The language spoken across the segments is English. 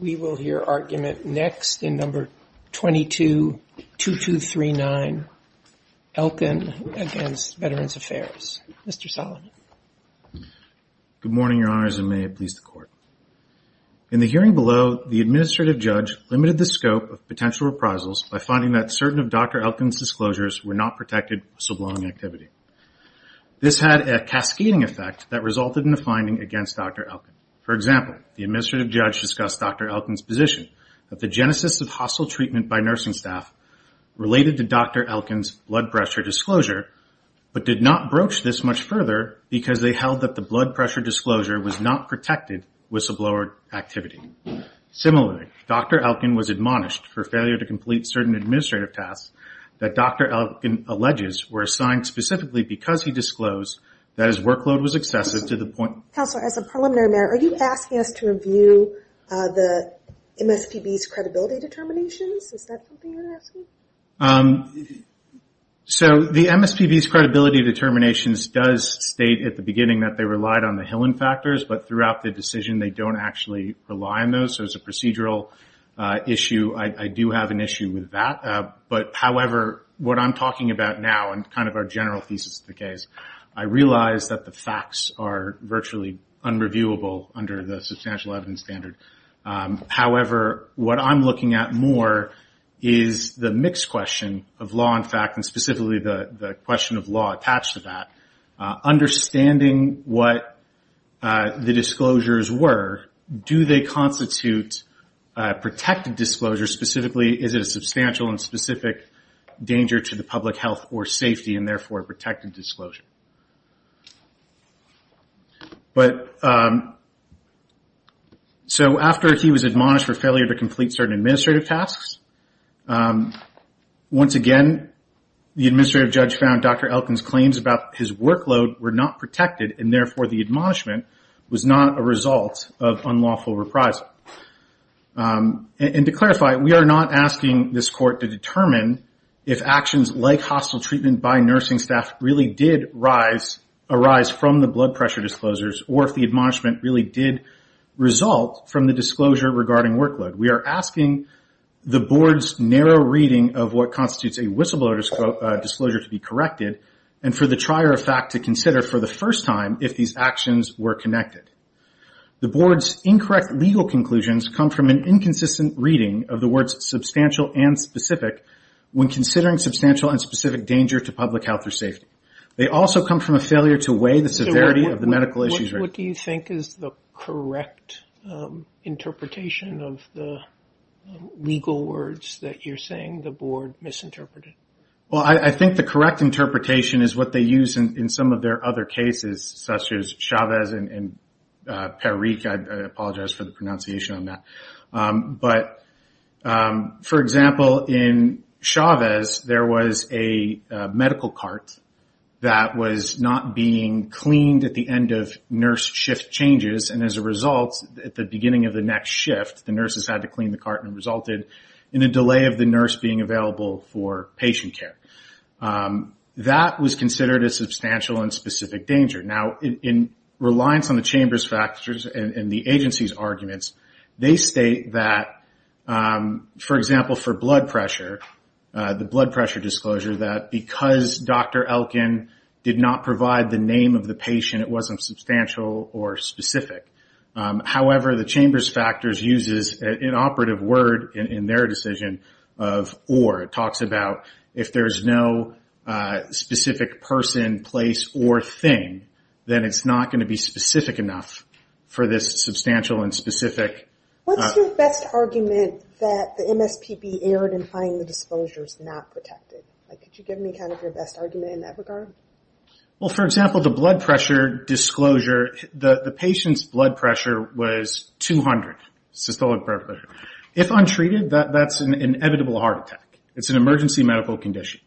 We will hear argument next in number 222239, Elkin v. Veterans Affairs. Mr. Solomon. Good morning, Your Honors, and may it please the Court. In the hearing below, the administrative judge limited the scope of potential reprisals by finding that certain of Dr. Elkin's disclosures were not protected sublime activity. This had a cascading effect that resulted in a finding against Dr. Elkin. For example, the administrative judge discussed Dr. Elkin's position that the genesis of hostile treatment by nursing staff related to Dr. Elkin's blood pressure disclosure, but did not broach this much further because they held that the blood pressure disclosure was not protected whistleblower activity. Similarly, Dr. Elkin was admonished for failure to complete certain administrative tasks that Dr. Elkin alleges were assigned specifically because he disclosed that his workload was excessive to the point... Counselor, as a preliminary matter, are you asking us to review the MSPB's credibility determinations? Is that something you're asking? So the MSPB's credibility determinations does state at the beginning that they relied on the Hillen factors, but throughout the decision they don't actually rely on those, so it's a procedural issue. I do have an issue with that, but however, what I'm talking about now and kind of our general thesis of the case, I realize that the facts are virtually unreviewable under the substantial evidence standard. However, what I'm looking at more is the mixed question of law and fact, and specifically the question of law attached to that. Understanding what the disclosures were, do they constitute protected disclosure? Specifically, is it a substantial and specific danger to the public health or safety, and therefore a protected disclosure? After he was admonished for failure to complete certain administrative tasks, once again the administrative judge found Dr. Elkin's claims about his workload were not protected, and therefore the admonishment was not a result of unlawful reprisal. And to clarify, we are not asking this court to determine if actions like hostile treatment by nursing staff really did arise from the blood pressure disclosures, or if the admonishment really did result from the disclosure regarding workload. We are asking the board's narrow reading of what constitutes a whistleblower disclosure to be corrected, and for the trier of fact to consider for the first time if these actions were connected. The board's incorrect legal conclusions come from an inconsistent reading of the words substantial and specific when considering substantial and specific danger to public health or safety. They also come from a failure to weigh the severity of the medical issues. What do you think is the correct interpretation of the legal words that you're saying the board misinterpreted? Well, I think the correct interpretation is what they use in some of their other cases, such as Chavez and Parikh. I apologize for the pronunciation on that. But, for example, in Chavez, there was a medical cart that was not being cleaned at the end of nurse shift changes, and as a result, at the beginning of the next shift, the nurses had to clean the cart, and it resulted in a delay of the nurse being available for patient care. That was considered a substantial and specific danger. Now, in reliance on the Chamber's factors and the agency's arguments, they state that, for example, for blood pressure, the blood pressure disclosure, that because Dr. Elkin did not provide the name of the patient, it wasn't substantial or specific. However, the Chamber's factors uses an operative word in their decision of or. It talks about if there's no specific person, place, or thing, then it's not going to be specific enough for this substantial and specific. What's your best argument that the MSPB erred in finding the disclosures not protected? Could you give me kind of your best argument in that regard? Well, for example, the blood pressure disclosure, the patient's blood pressure was 200 systolic pressure. If untreated, that's an inevitable heart attack. It's an emergency medical condition.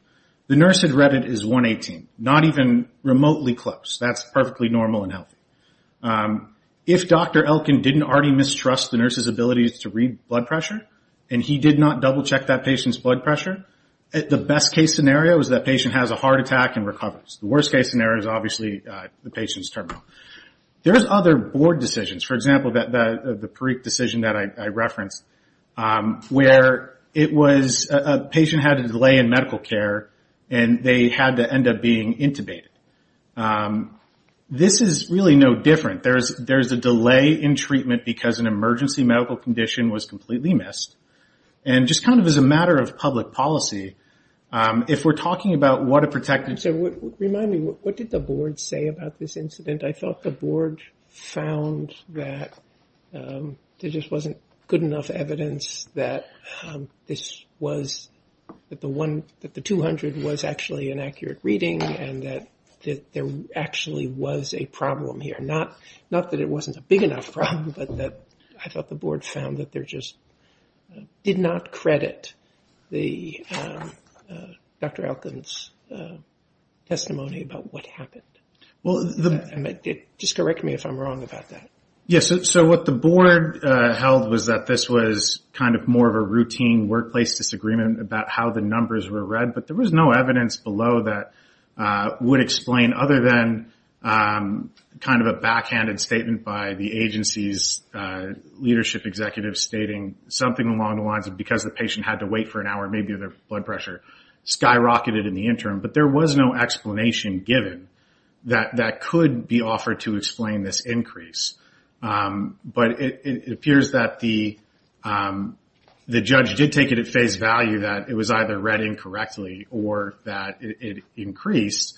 The nurse had read it as 118, not even remotely close. That's perfectly normal and healthy. If Dr. Elkin didn't already mistrust the nurse's ability to read blood pressure, and he did not double-check that patient's blood pressure, the best-case scenario is that patient has a heart attack and recovers. The worst-case scenario is obviously the patient's terminal. There's other board decisions. For example, the Parikh decision that I referenced, where it was a patient had a delay in medical care, and they had to end up being intubated. This is really no different. There's a delay in treatment because an emergency medical condition was completely missed. And just kind of as a matter of public policy, if we're talking about what a protected- Remind me, what did the board say about this incident? I felt the board found that there just wasn't good enough evidence that this was the one, that the 200 was actually an accurate reading and that there actually was a problem here. Not that it wasn't a big enough problem, but I thought the board found that there just did not credit Dr. Elkin's testimony about what happened. Just correct me if I'm wrong about that. Yes, so what the board held was that this was kind of more of a routine workplace disagreement about how the numbers were read, but there was no evidence below that would explain other than kind of a backhanded statement by the agency's leadership executive stating something along the lines of because the patient had to wait for an hour, maybe their blood pressure skyrocketed in the interim. But there was no explanation given that that could be offered to explain this increase. But it appears that the judge did take it at face value that it was either read incorrectly or that it increased,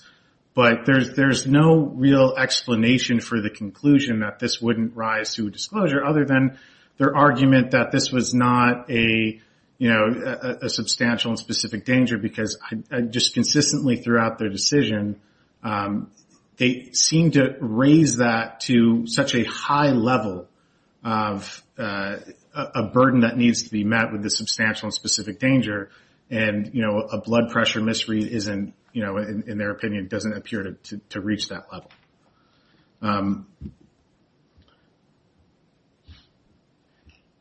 but there's no real explanation for the conclusion that this wouldn't rise to a disclosure, other than their argument that this was not a substantial and specific danger, because just consistently throughout their decision, they seemed to raise that to such a high level of a burden that needs to be met with a substantial and specific danger, and a blood pressure misread, in their opinion, doesn't appear to reach that level.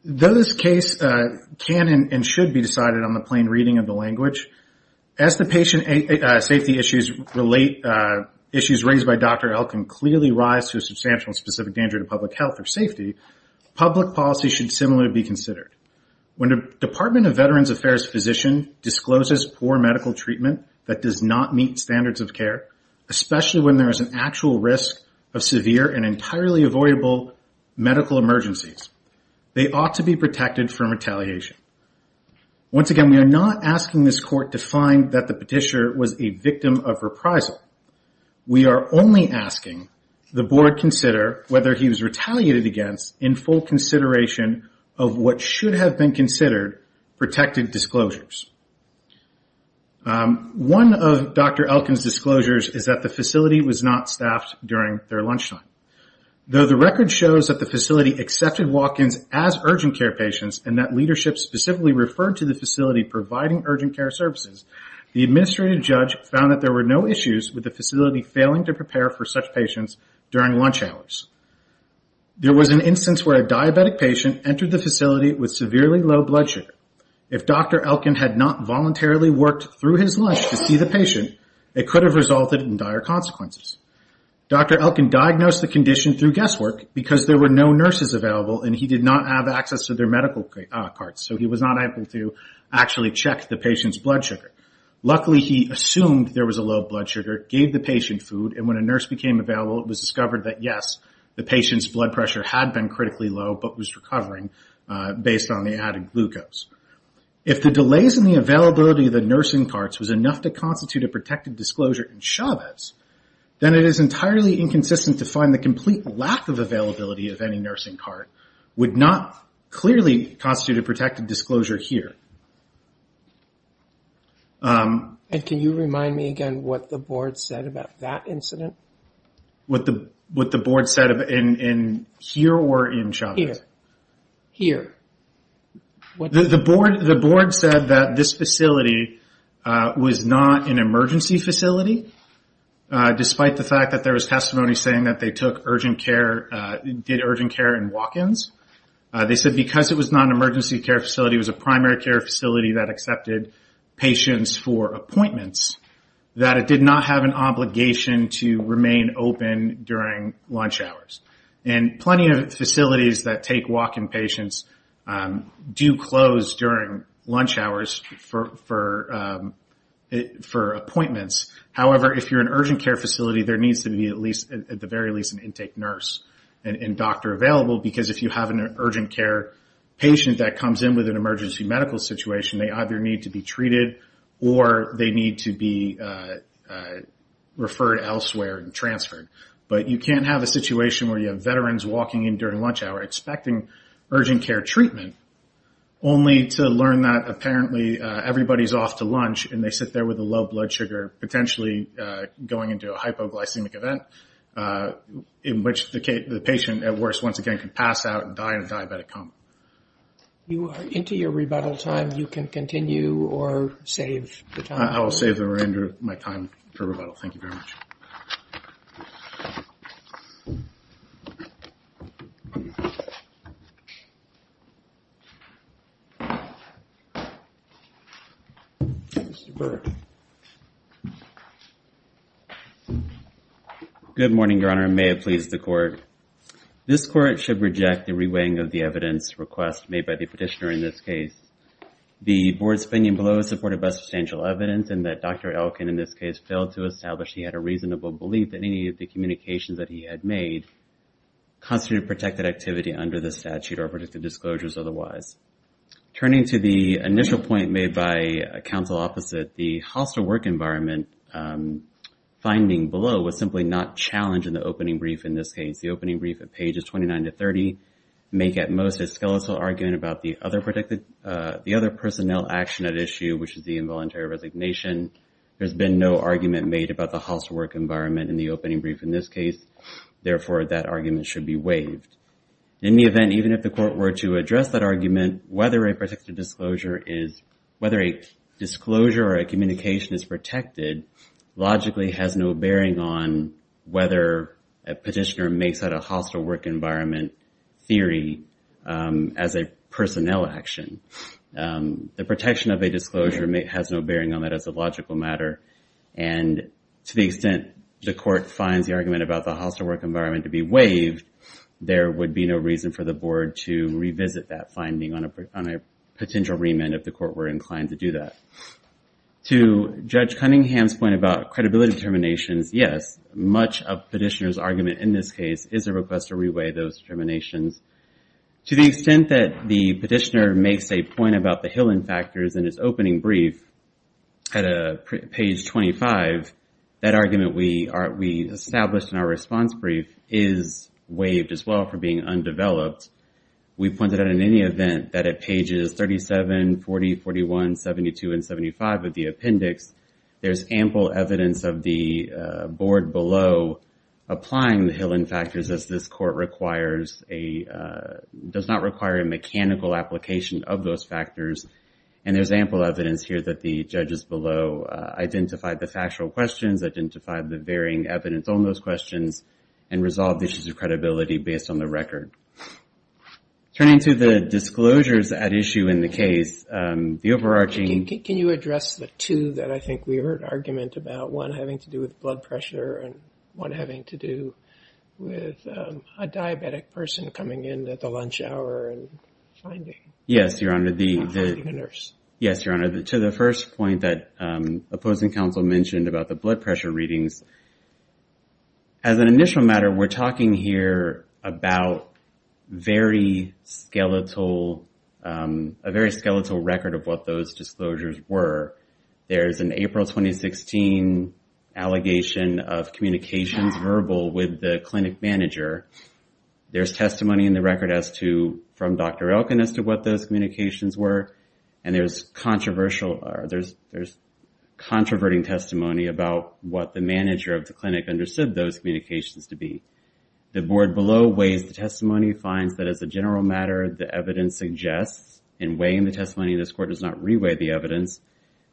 Though this case can and should be decided on the plain reading of the language, as the patient safety issues raised by Dr. Elkin clearly rise to a substantial and specific danger to public health or safety, public policy should similarly be considered. When a Department of Veterans Affairs physician discloses poor medical treatment that does not meet standards of care, especially when there is an actual risk of severe and entirely avoidable medical emergencies, they ought to be protected from retaliation. Once again, we are not asking this court to find that the petitioner was a victim of reprisal. We are only asking the board consider whether he was retaliated against in full consideration of what should have been considered protected disclosures. One of Dr. Elkin's disclosures is that the facility was not staffed during their lunchtime. Though the record shows that the facility accepted walk-ins as urgent care patients and that leadership specifically referred to the facility providing urgent care services, the administrative judge found that there were no issues with the facility failing to prepare for such patients during lunch hours. There was an instance where a diabetic patient entered the facility with severely low blood sugar. If Dr. Elkin had not voluntarily worked through his lunch to see the patient, it could have resulted in dire consequences. Dr. Elkin diagnosed the condition through guesswork because there were no nurses available and he did not have access to their medical cards, so he was not able to actually check the patient's blood sugar. Luckily, he assumed there was a low blood sugar, gave the patient food, and when a nurse became available, it was discovered that yes, the patient's blood pressure had been critically low but was recovering based on the added glucose. If the delays in the availability of the nursing cards was enough to constitute a protected disclosure in Chavez, then it is entirely inconsistent to find the complete lack of availability of any nursing card would not clearly constitute a protected disclosure here. Can you remind me again what the board said about that incident? What the board said here or in Chavez? Here. The board said that this facility was not an emergency facility, despite the fact that there was testimony saying that they took urgent care and did urgent care and walk-ins. They said because it was not an emergency care facility, it was a primary care facility that accepted patients for appointments, that it did not have an obligation to remain open during lunch hours. Plenty of facilities that take walk-in patients do close during lunch hours for appointments. However, if you're an urgent care facility, there needs to be at the very least an intake nurse and doctor available because if you have an urgent care patient that comes in with an emergency medical situation, they either need to be treated or they need to be transferred elsewhere and transferred. But you can't have a situation where you have veterans walking in during lunch hour expecting urgent care treatment only to learn that apparently everybody is off to lunch and they sit there with a low blood sugar, potentially going into a hypoglycemic event in which the patient at worst once again can pass out and die in a diabetic coma. You are into your rebuttal time. You can continue or save the time. I will save my time for rebuttal. Thank you very much. Mr. Burke. Good morning, Your Honor. May it please the Court. This Court should reject the reweighing of the evidence request made by the petitioner in this case. The board's opinion below is supported by substantial evidence in that Dr. Elkin in this case failed to establish he had a reasonable belief that any of the communications that he had made constituted protected activity under the statute or predicted disclosures otherwise. Turning to the initial point made by counsel opposite, the hostile work environment finding below was simply not challenged in the opening brief at pages 29 to 30, make at most a skeletal argument about the other personnel action at issue, which is the involuntary resignation. There has been no argument made about the hostile work environment in the opening brief in this case. Therefore, that argument should be waived. In the event, even if the Court were to address that argument, whether a protected disclosure or a communication is protected logically has no bearing on whether a petitioner makes that a hostile work environment theory as a personnel action. The protection of a disclosure has no bearing on that as a logical matter, and to the extent the Court finds the argument about the hostile work environment to be waived, there would be no reason for the board to revisit that finding on a potential remand if the Court were inclined to do that. To Judge Cunningham's point about credibility determinations, yes, much of a petitioner's argument in this case is a request to reweigh those determinations. To the extent that the petitioner makes a point about the Hillen factors in his opening brief at page 25, that argument we established in our response brief is waived as well for being undeveloped. We pointed out in any event that at pages 37, 40, 41, 72, and 75 of the appendix, there's ample evidence of the board below applying the Hillen factors as this Court does not require a mechanical application of those factors, and there's ample evidence here that the judges below identified the factual questions, identified the varying evidence on those questions, and resolved issues of credibility based on the record. Turning to the disclosures at issue in the case, the overarching... Can you address the two that I think we heard argument about, one having to do with blood pressure and one having to do with a diabetic person coming in at the lunch hour and finding a nurse? Yes, Your Honor. To the first point that opposing counsel mentioned about the blood pressure readings, as an initial matter, we're talking here about a very skeletal record of what those disclosures were. There's an April 2016 allegation of communications verbal with the clinic manager. There's testimony in the record from Dr. Elkin as to what those communications were, and there's controverting testimony about what the manager of the clinic understood those communications to be. The board below weighs the testimony, finds that as a general matter, the evidence suggests, in weighing the testimony, and this Court does not re-weigh the evidence,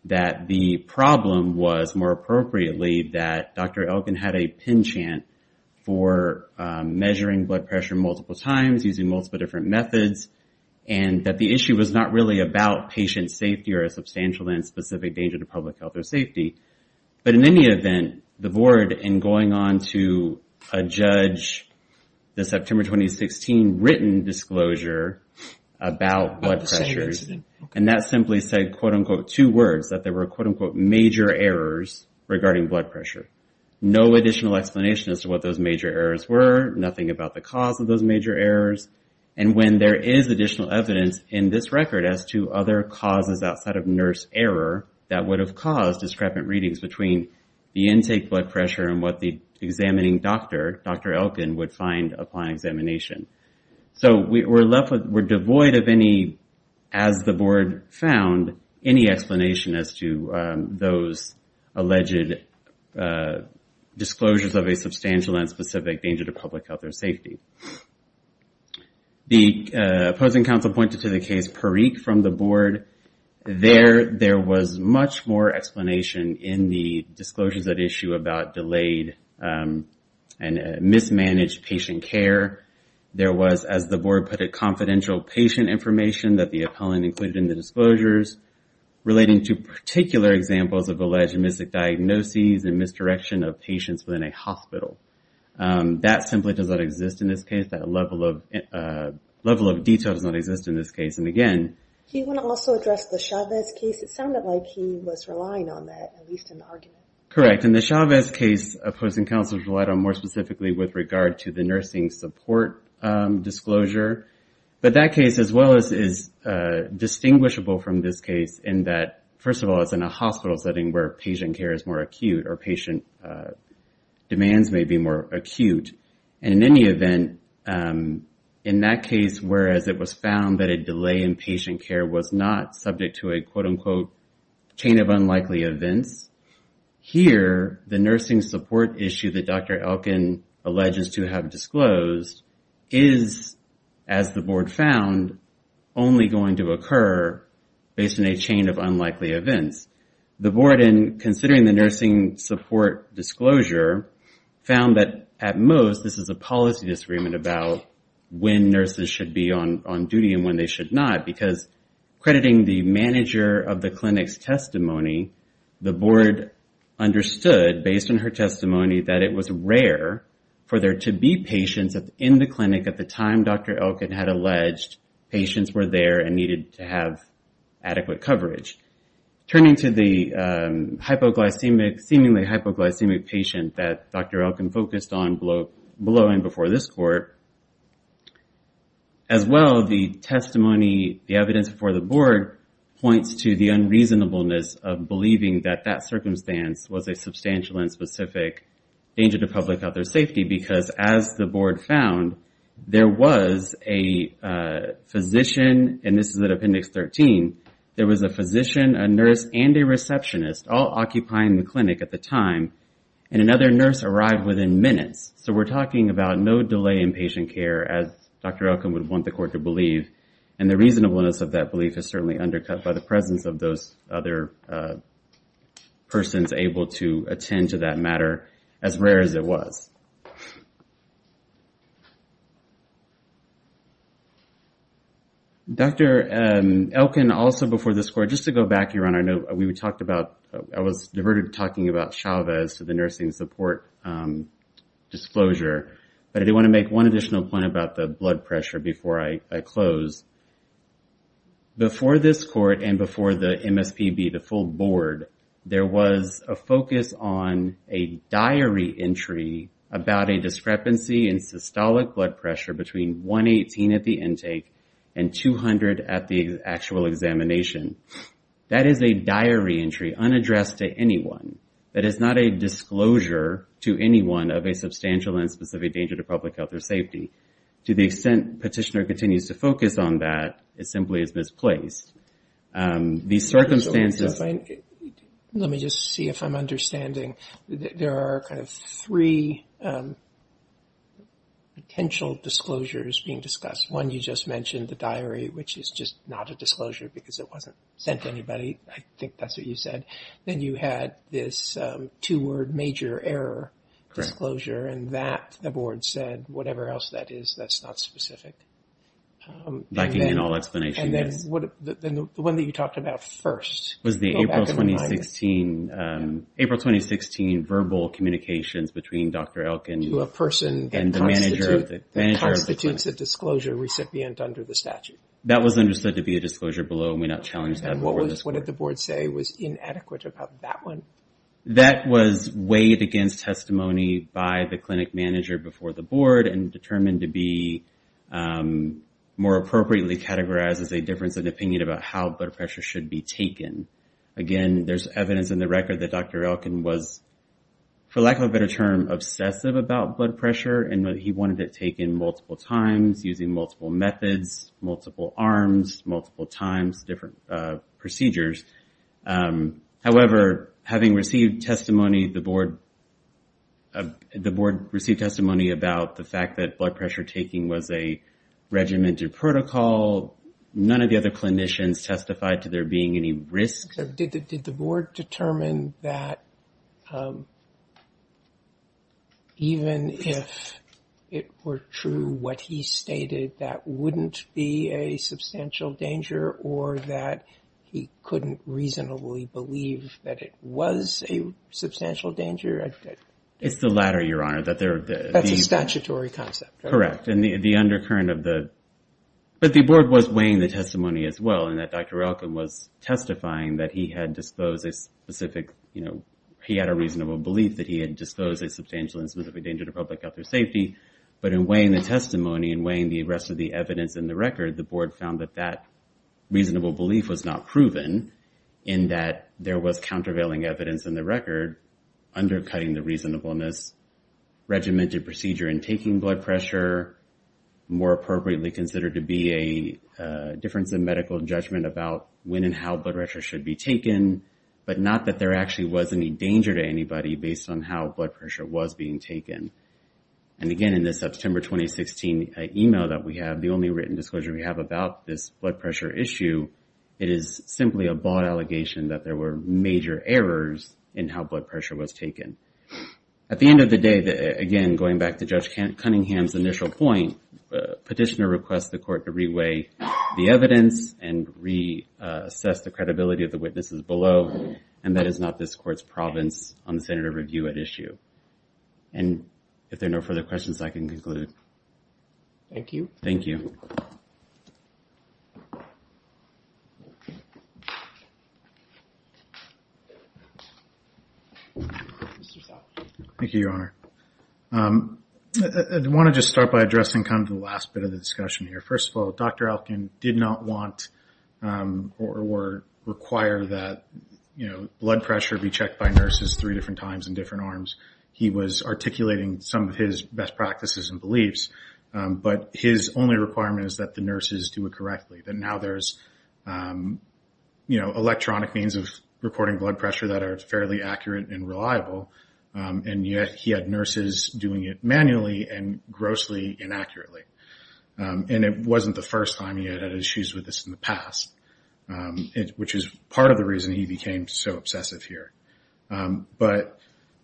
that the problem was, more appropriately, that Dr. Elkin had a pin chant for measuring blood pressure multiple times, using multiple different methods, and that the issue was not really about patient safety or a substantial and specific danger to public health or safety, but in any event, the board, in going on to a judge, the September 2016 written disclosure about blood pressure, and that simply said, quote, unquote, two words, that there were, quote, unquote, major errors regarding blood pressure. No additional explanation as to what those major errors were, nothing about the cause of those major errors, and when there is additional evidence in this record as to other causes outside of nurse error that would have caused discrepant readings between the intake blood pressure and what the examining doctor, Dr. Elkin, would find upon examination. So we're left with, we're devoid of any, as the board found, any explanation as to those alleged disclosures of a substantial and specific danger to public health or safety. The opposing counsel pointed to the case Perique from the board. There was much more explanation in the disclosures at issue about delayed and mismanaged patient care. There was, as the board put it, confidential patient information that the appellant included in the disclosures, relating to particular examples of alleged mystic diagnoses and misdirection of patients within a hospital. That simply does not exist in this case. That level of detail does not exist in this case. And again, he would also address the Chavez case. It sounded like he was relying on that, at least in the argument. Correct. And the Chavez case, opposing counsel relied on more specifically with regard to the nursing support disclosure. But that case, as well as is distinguishable from this case in that, first of all, it's in a hospital setting where patient care is more acute or patient demands may be more acute. And in any event, in that case, whereas it was found that a delay in patient care was not subject to a, quote-unquote, chain of unlikely events, here, the nursing support issue that Dr. Elkin alleges to have disclosed is, as the board found, only going to occur based on a chain of unlikely events. The board, in considering the nursing support disclosure, found that at most, this is a policy disagreement about when nurses should be on duty and when they should not. Because crediting the manager of the clinic's testimony, the board understood, based on her testimony, that it was rare for there to be patients in the clinic at the time Dr. Elkin had alleged patients were there and needed to have adequate coverage. Turning to the hypoglycemic, seemingly hypoglycemic patient that Dr. Elkin focused on below and before this court, as well, the testimony, the evidence before the board points to the unreasonableness of believing that that circumstance was a substantial and specific danger to public health or safety. Because, as the board found, there was a physician, and this is at Appendix 13, there was a physician, a nurse, and a receptionist, all occupying the clinic at the time, and another nurse arrived within minutes. So we're talking about no delay in patient care, as Dr. Elkin would want the court to believe. And the reasonableness of that belief is certainly undercut by the presence of those other persons able to attend to that matter, as rare as it was. Dr. Elkin, also before this court, just to go back here on our note, we talked about, I was diverted talking about Chavez to the nursing support disclosure, but I do want to make one additional point about the blood pressure before I close. Before this court and before the MSPB, the full board, there was a focus on a diary entry about a discrepancy in systolic blood pressure between 118 at the intake and 200 at the actual examination. That is a diary entry unaddressed to anyone. That is not a disclosure to anyone of a substantial and specific danger to public health or safety. To the extent petitioner continues to focus on that, it simply is misplaced. Let me just see if I'm understanding. There are kind of three potential disclosures being discussed. One, you just mentioned the diary, which is just not a disclosure because it wasn't sent to anybody. I think that's what you said. Then you had this two-word major error disclosure, and that the board said, whatever else that is, that's not specific. The one that you talked about first. It was the April 2016 verbal communications between Dr. Elkin and the manager of the clinic. To a person that constitutes a disclosure recipient under the statute. That was understood to be a disclosure below and we not challenged that. What did the board say was inadequate about that one? That was weighed against testimony by the clinic manager before the board and determined to be more appropriately categorized as a difference of opinion about how blood pressure should be taken. Again, there's evidence in the record that Dr. Elkin was, for lack of a better term, obsessive about blood pressure. He wanted it taken multiple times, using multiple methods, multiple arms, multiple times, different procedures. However, having received testimony, the board received testimony about the fact that blood pressure taking was a regimented protocol. None of the other clinicians testified to there being any risk. Did the board determine that even if it were true, what he stated, that wouldn't be a substantial danger, or that he couldn't reasonably believe that it was a substantial danger? That's a statutory concept. But the board was weighing the testimony as well, and that Dr. Elkin was testifying that he had a reasonable belief that he had disposed a substantial and specific danger to public health or safety. But in weighing the testimony and weighing the rest of the evidence in the record, the board found that that reasonable belief was not proven, in that there was countervailing evidence in the record undercutting the reasonableness, regimented procedure in taking blood pressure, more appropriately considered to be a difference in medical judgment about when and how blood pressure should be taken, but not that there actually was any danger to anybody based on how blood pressure was being taken. And again, in this September 2016 email that we have, the only written disclosure we have about this blood pressure issue, it is simply a bought allegation that there were major errors in how blood pressure was taken. At the end of the day, again, going back to Judge Cunningham's initial point, petitioner requests the court to re-weigh the evidence and reassess the credibility of the witnesses below, and that is not this court's province on the senator review at issue. And if there are no further questions, I can conclude. Thank you. Thank you, Your Honor. I want to just start by addressing kind of the last bit of the discussion here. First of all, Dr. Elkin did not want or require that blood pressure be checked by nurses three different times in different arms. He was articulating some of his best practices and beliefs, but his only requirement is that the nurses do it correctly, that now there's electronic means of reporting blood pressure that are fairly accurate and reliable, and yet he had nurses doing it manually and grossly inaccurately. And it wasn't the first time he had had issues with this in the past, which is part of the reason he became so obsessive here. But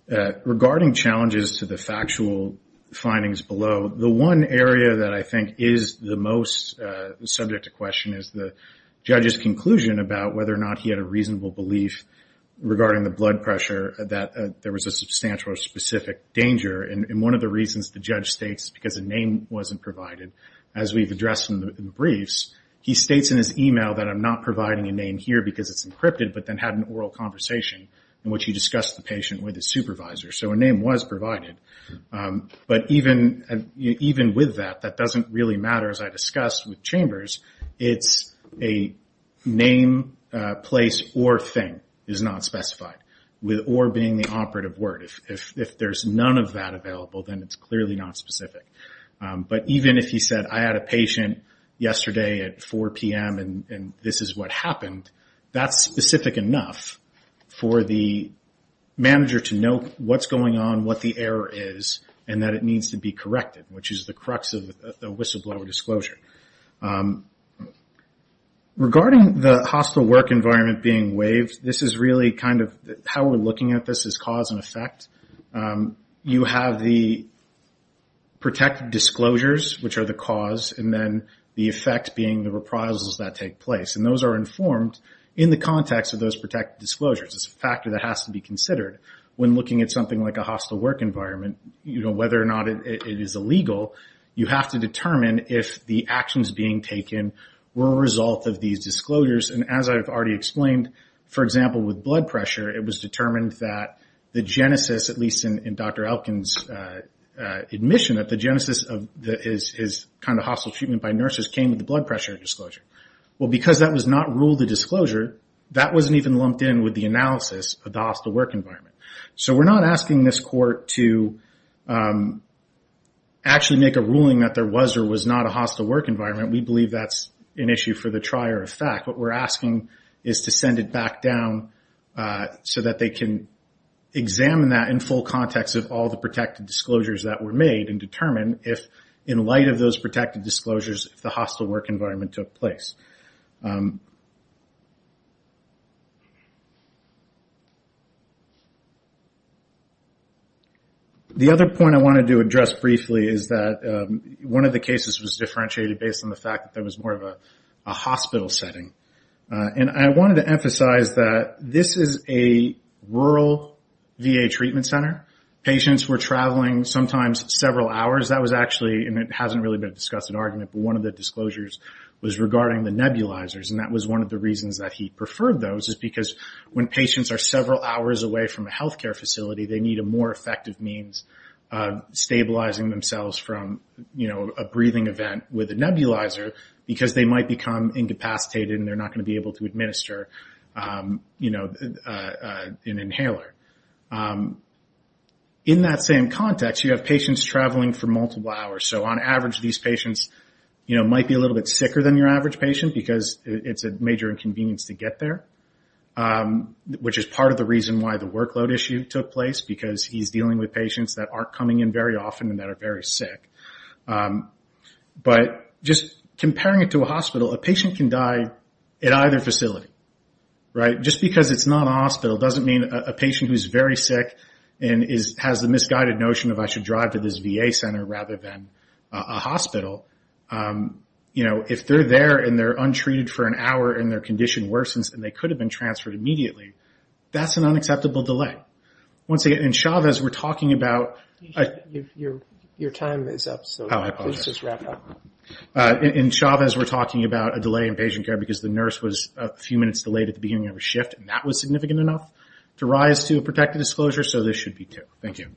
regarding challenges to the factual findings below, the one area that I think is the most subject to question is the judge's conclusion about whether or not he had a reasonable belief regarding the blood pressure that there was a substantial or specific danger. And one of the reasons the judge states because a name wasn't provided, as we've addressed in the briefs, he states in his email that I'm not providing a name here because it's encrypted, but then had an oral conversation in which he discussed the patient with his supervisor. So a name was provided. But even with that, that doesn't really matter, as I discussed with Chambers. It's a name, place, or thing is not specified, with or being the operative word. If there's none of that available, then it's clearly not specific. But even if he said I had a patient yesterday at 4 p.m. and this is what happened, that's specific enough for the manager to know what's going on, what the error is, and that it needs to be corrected, which is the crux of the whistleblower disclosure. Regarding the hospital work environment being waived, this is really kind of how we're looking at this as cause and effect. You have the protected disclosures, which are the cause, and then the effect being the reprisals that take place. And those are informed in the context of those protected disclosures. It's a factor that has to be considered when looking at something like a hospital work environment, whether or not it is illegal, you have to determine if the actions being taken were a result of these disclosures. And as I've already explained, for example, with blood pressure, it was determined that the genesis, at least in Dr. Elkin's admission that the genesis is kind of hostile treatment by nurses, came with the blood pressure disclosure. Well, because that was not ruled a disclosure, that wasn't even lumped in with the analysis of the hospital work environment. So we're not asking this court to actually make a ruling that there was or was not a hospital work environment. We believe that's an issue for the trier of fact. What we're asking is to send it back down so that they can examine that in full context of all the protected disclosures that were made and determine if, in light of those protected disclosures, the hospital work environment took place. The other point I wanted to address briefly is that one of the cases was differentiated based on the fact that there was more of a hospital setting. And I wanted to emphasize that this is a rural VA treatment center. Patients were traveling sometimes several hours. That was actually, and it hasn't really been discussed in argument, but one of the disclosures was regarding the nebulizers. And that was one of the reasons that he preferred those is because when patients are several hours away from a healthcare facility, they need a more effective means of stabilizing themselves from a breathing event with a nebulizer because they might become incapacitated and they're not going to be able to administer an inhaler. In that same context, you have patients traveling for multiple hours. So on average, these patients might be a little bit sicker than your average patient because it's a major inconvenience to get there, which is part of the reason why the workload issue took place because he's dealing with patients that aren't coming in very often and that are very sick. But just comparing it to a hospital, a patient can die at either facility. Just because it's not a hospital doesn't mean a patient who's very sick and has the misguided notion of, I should drive to this VA center rather than a hospital. If they're there and they're untreated for an hour and their condition worsens and they could have been transferred immediately, that's an unacceptable delay. And Chavez, we're talking about a delay in patient care because the nurse was a few minutes delayed at the beginning of a shift and that was significant enough to rise to a protective disclosure, so this should be too.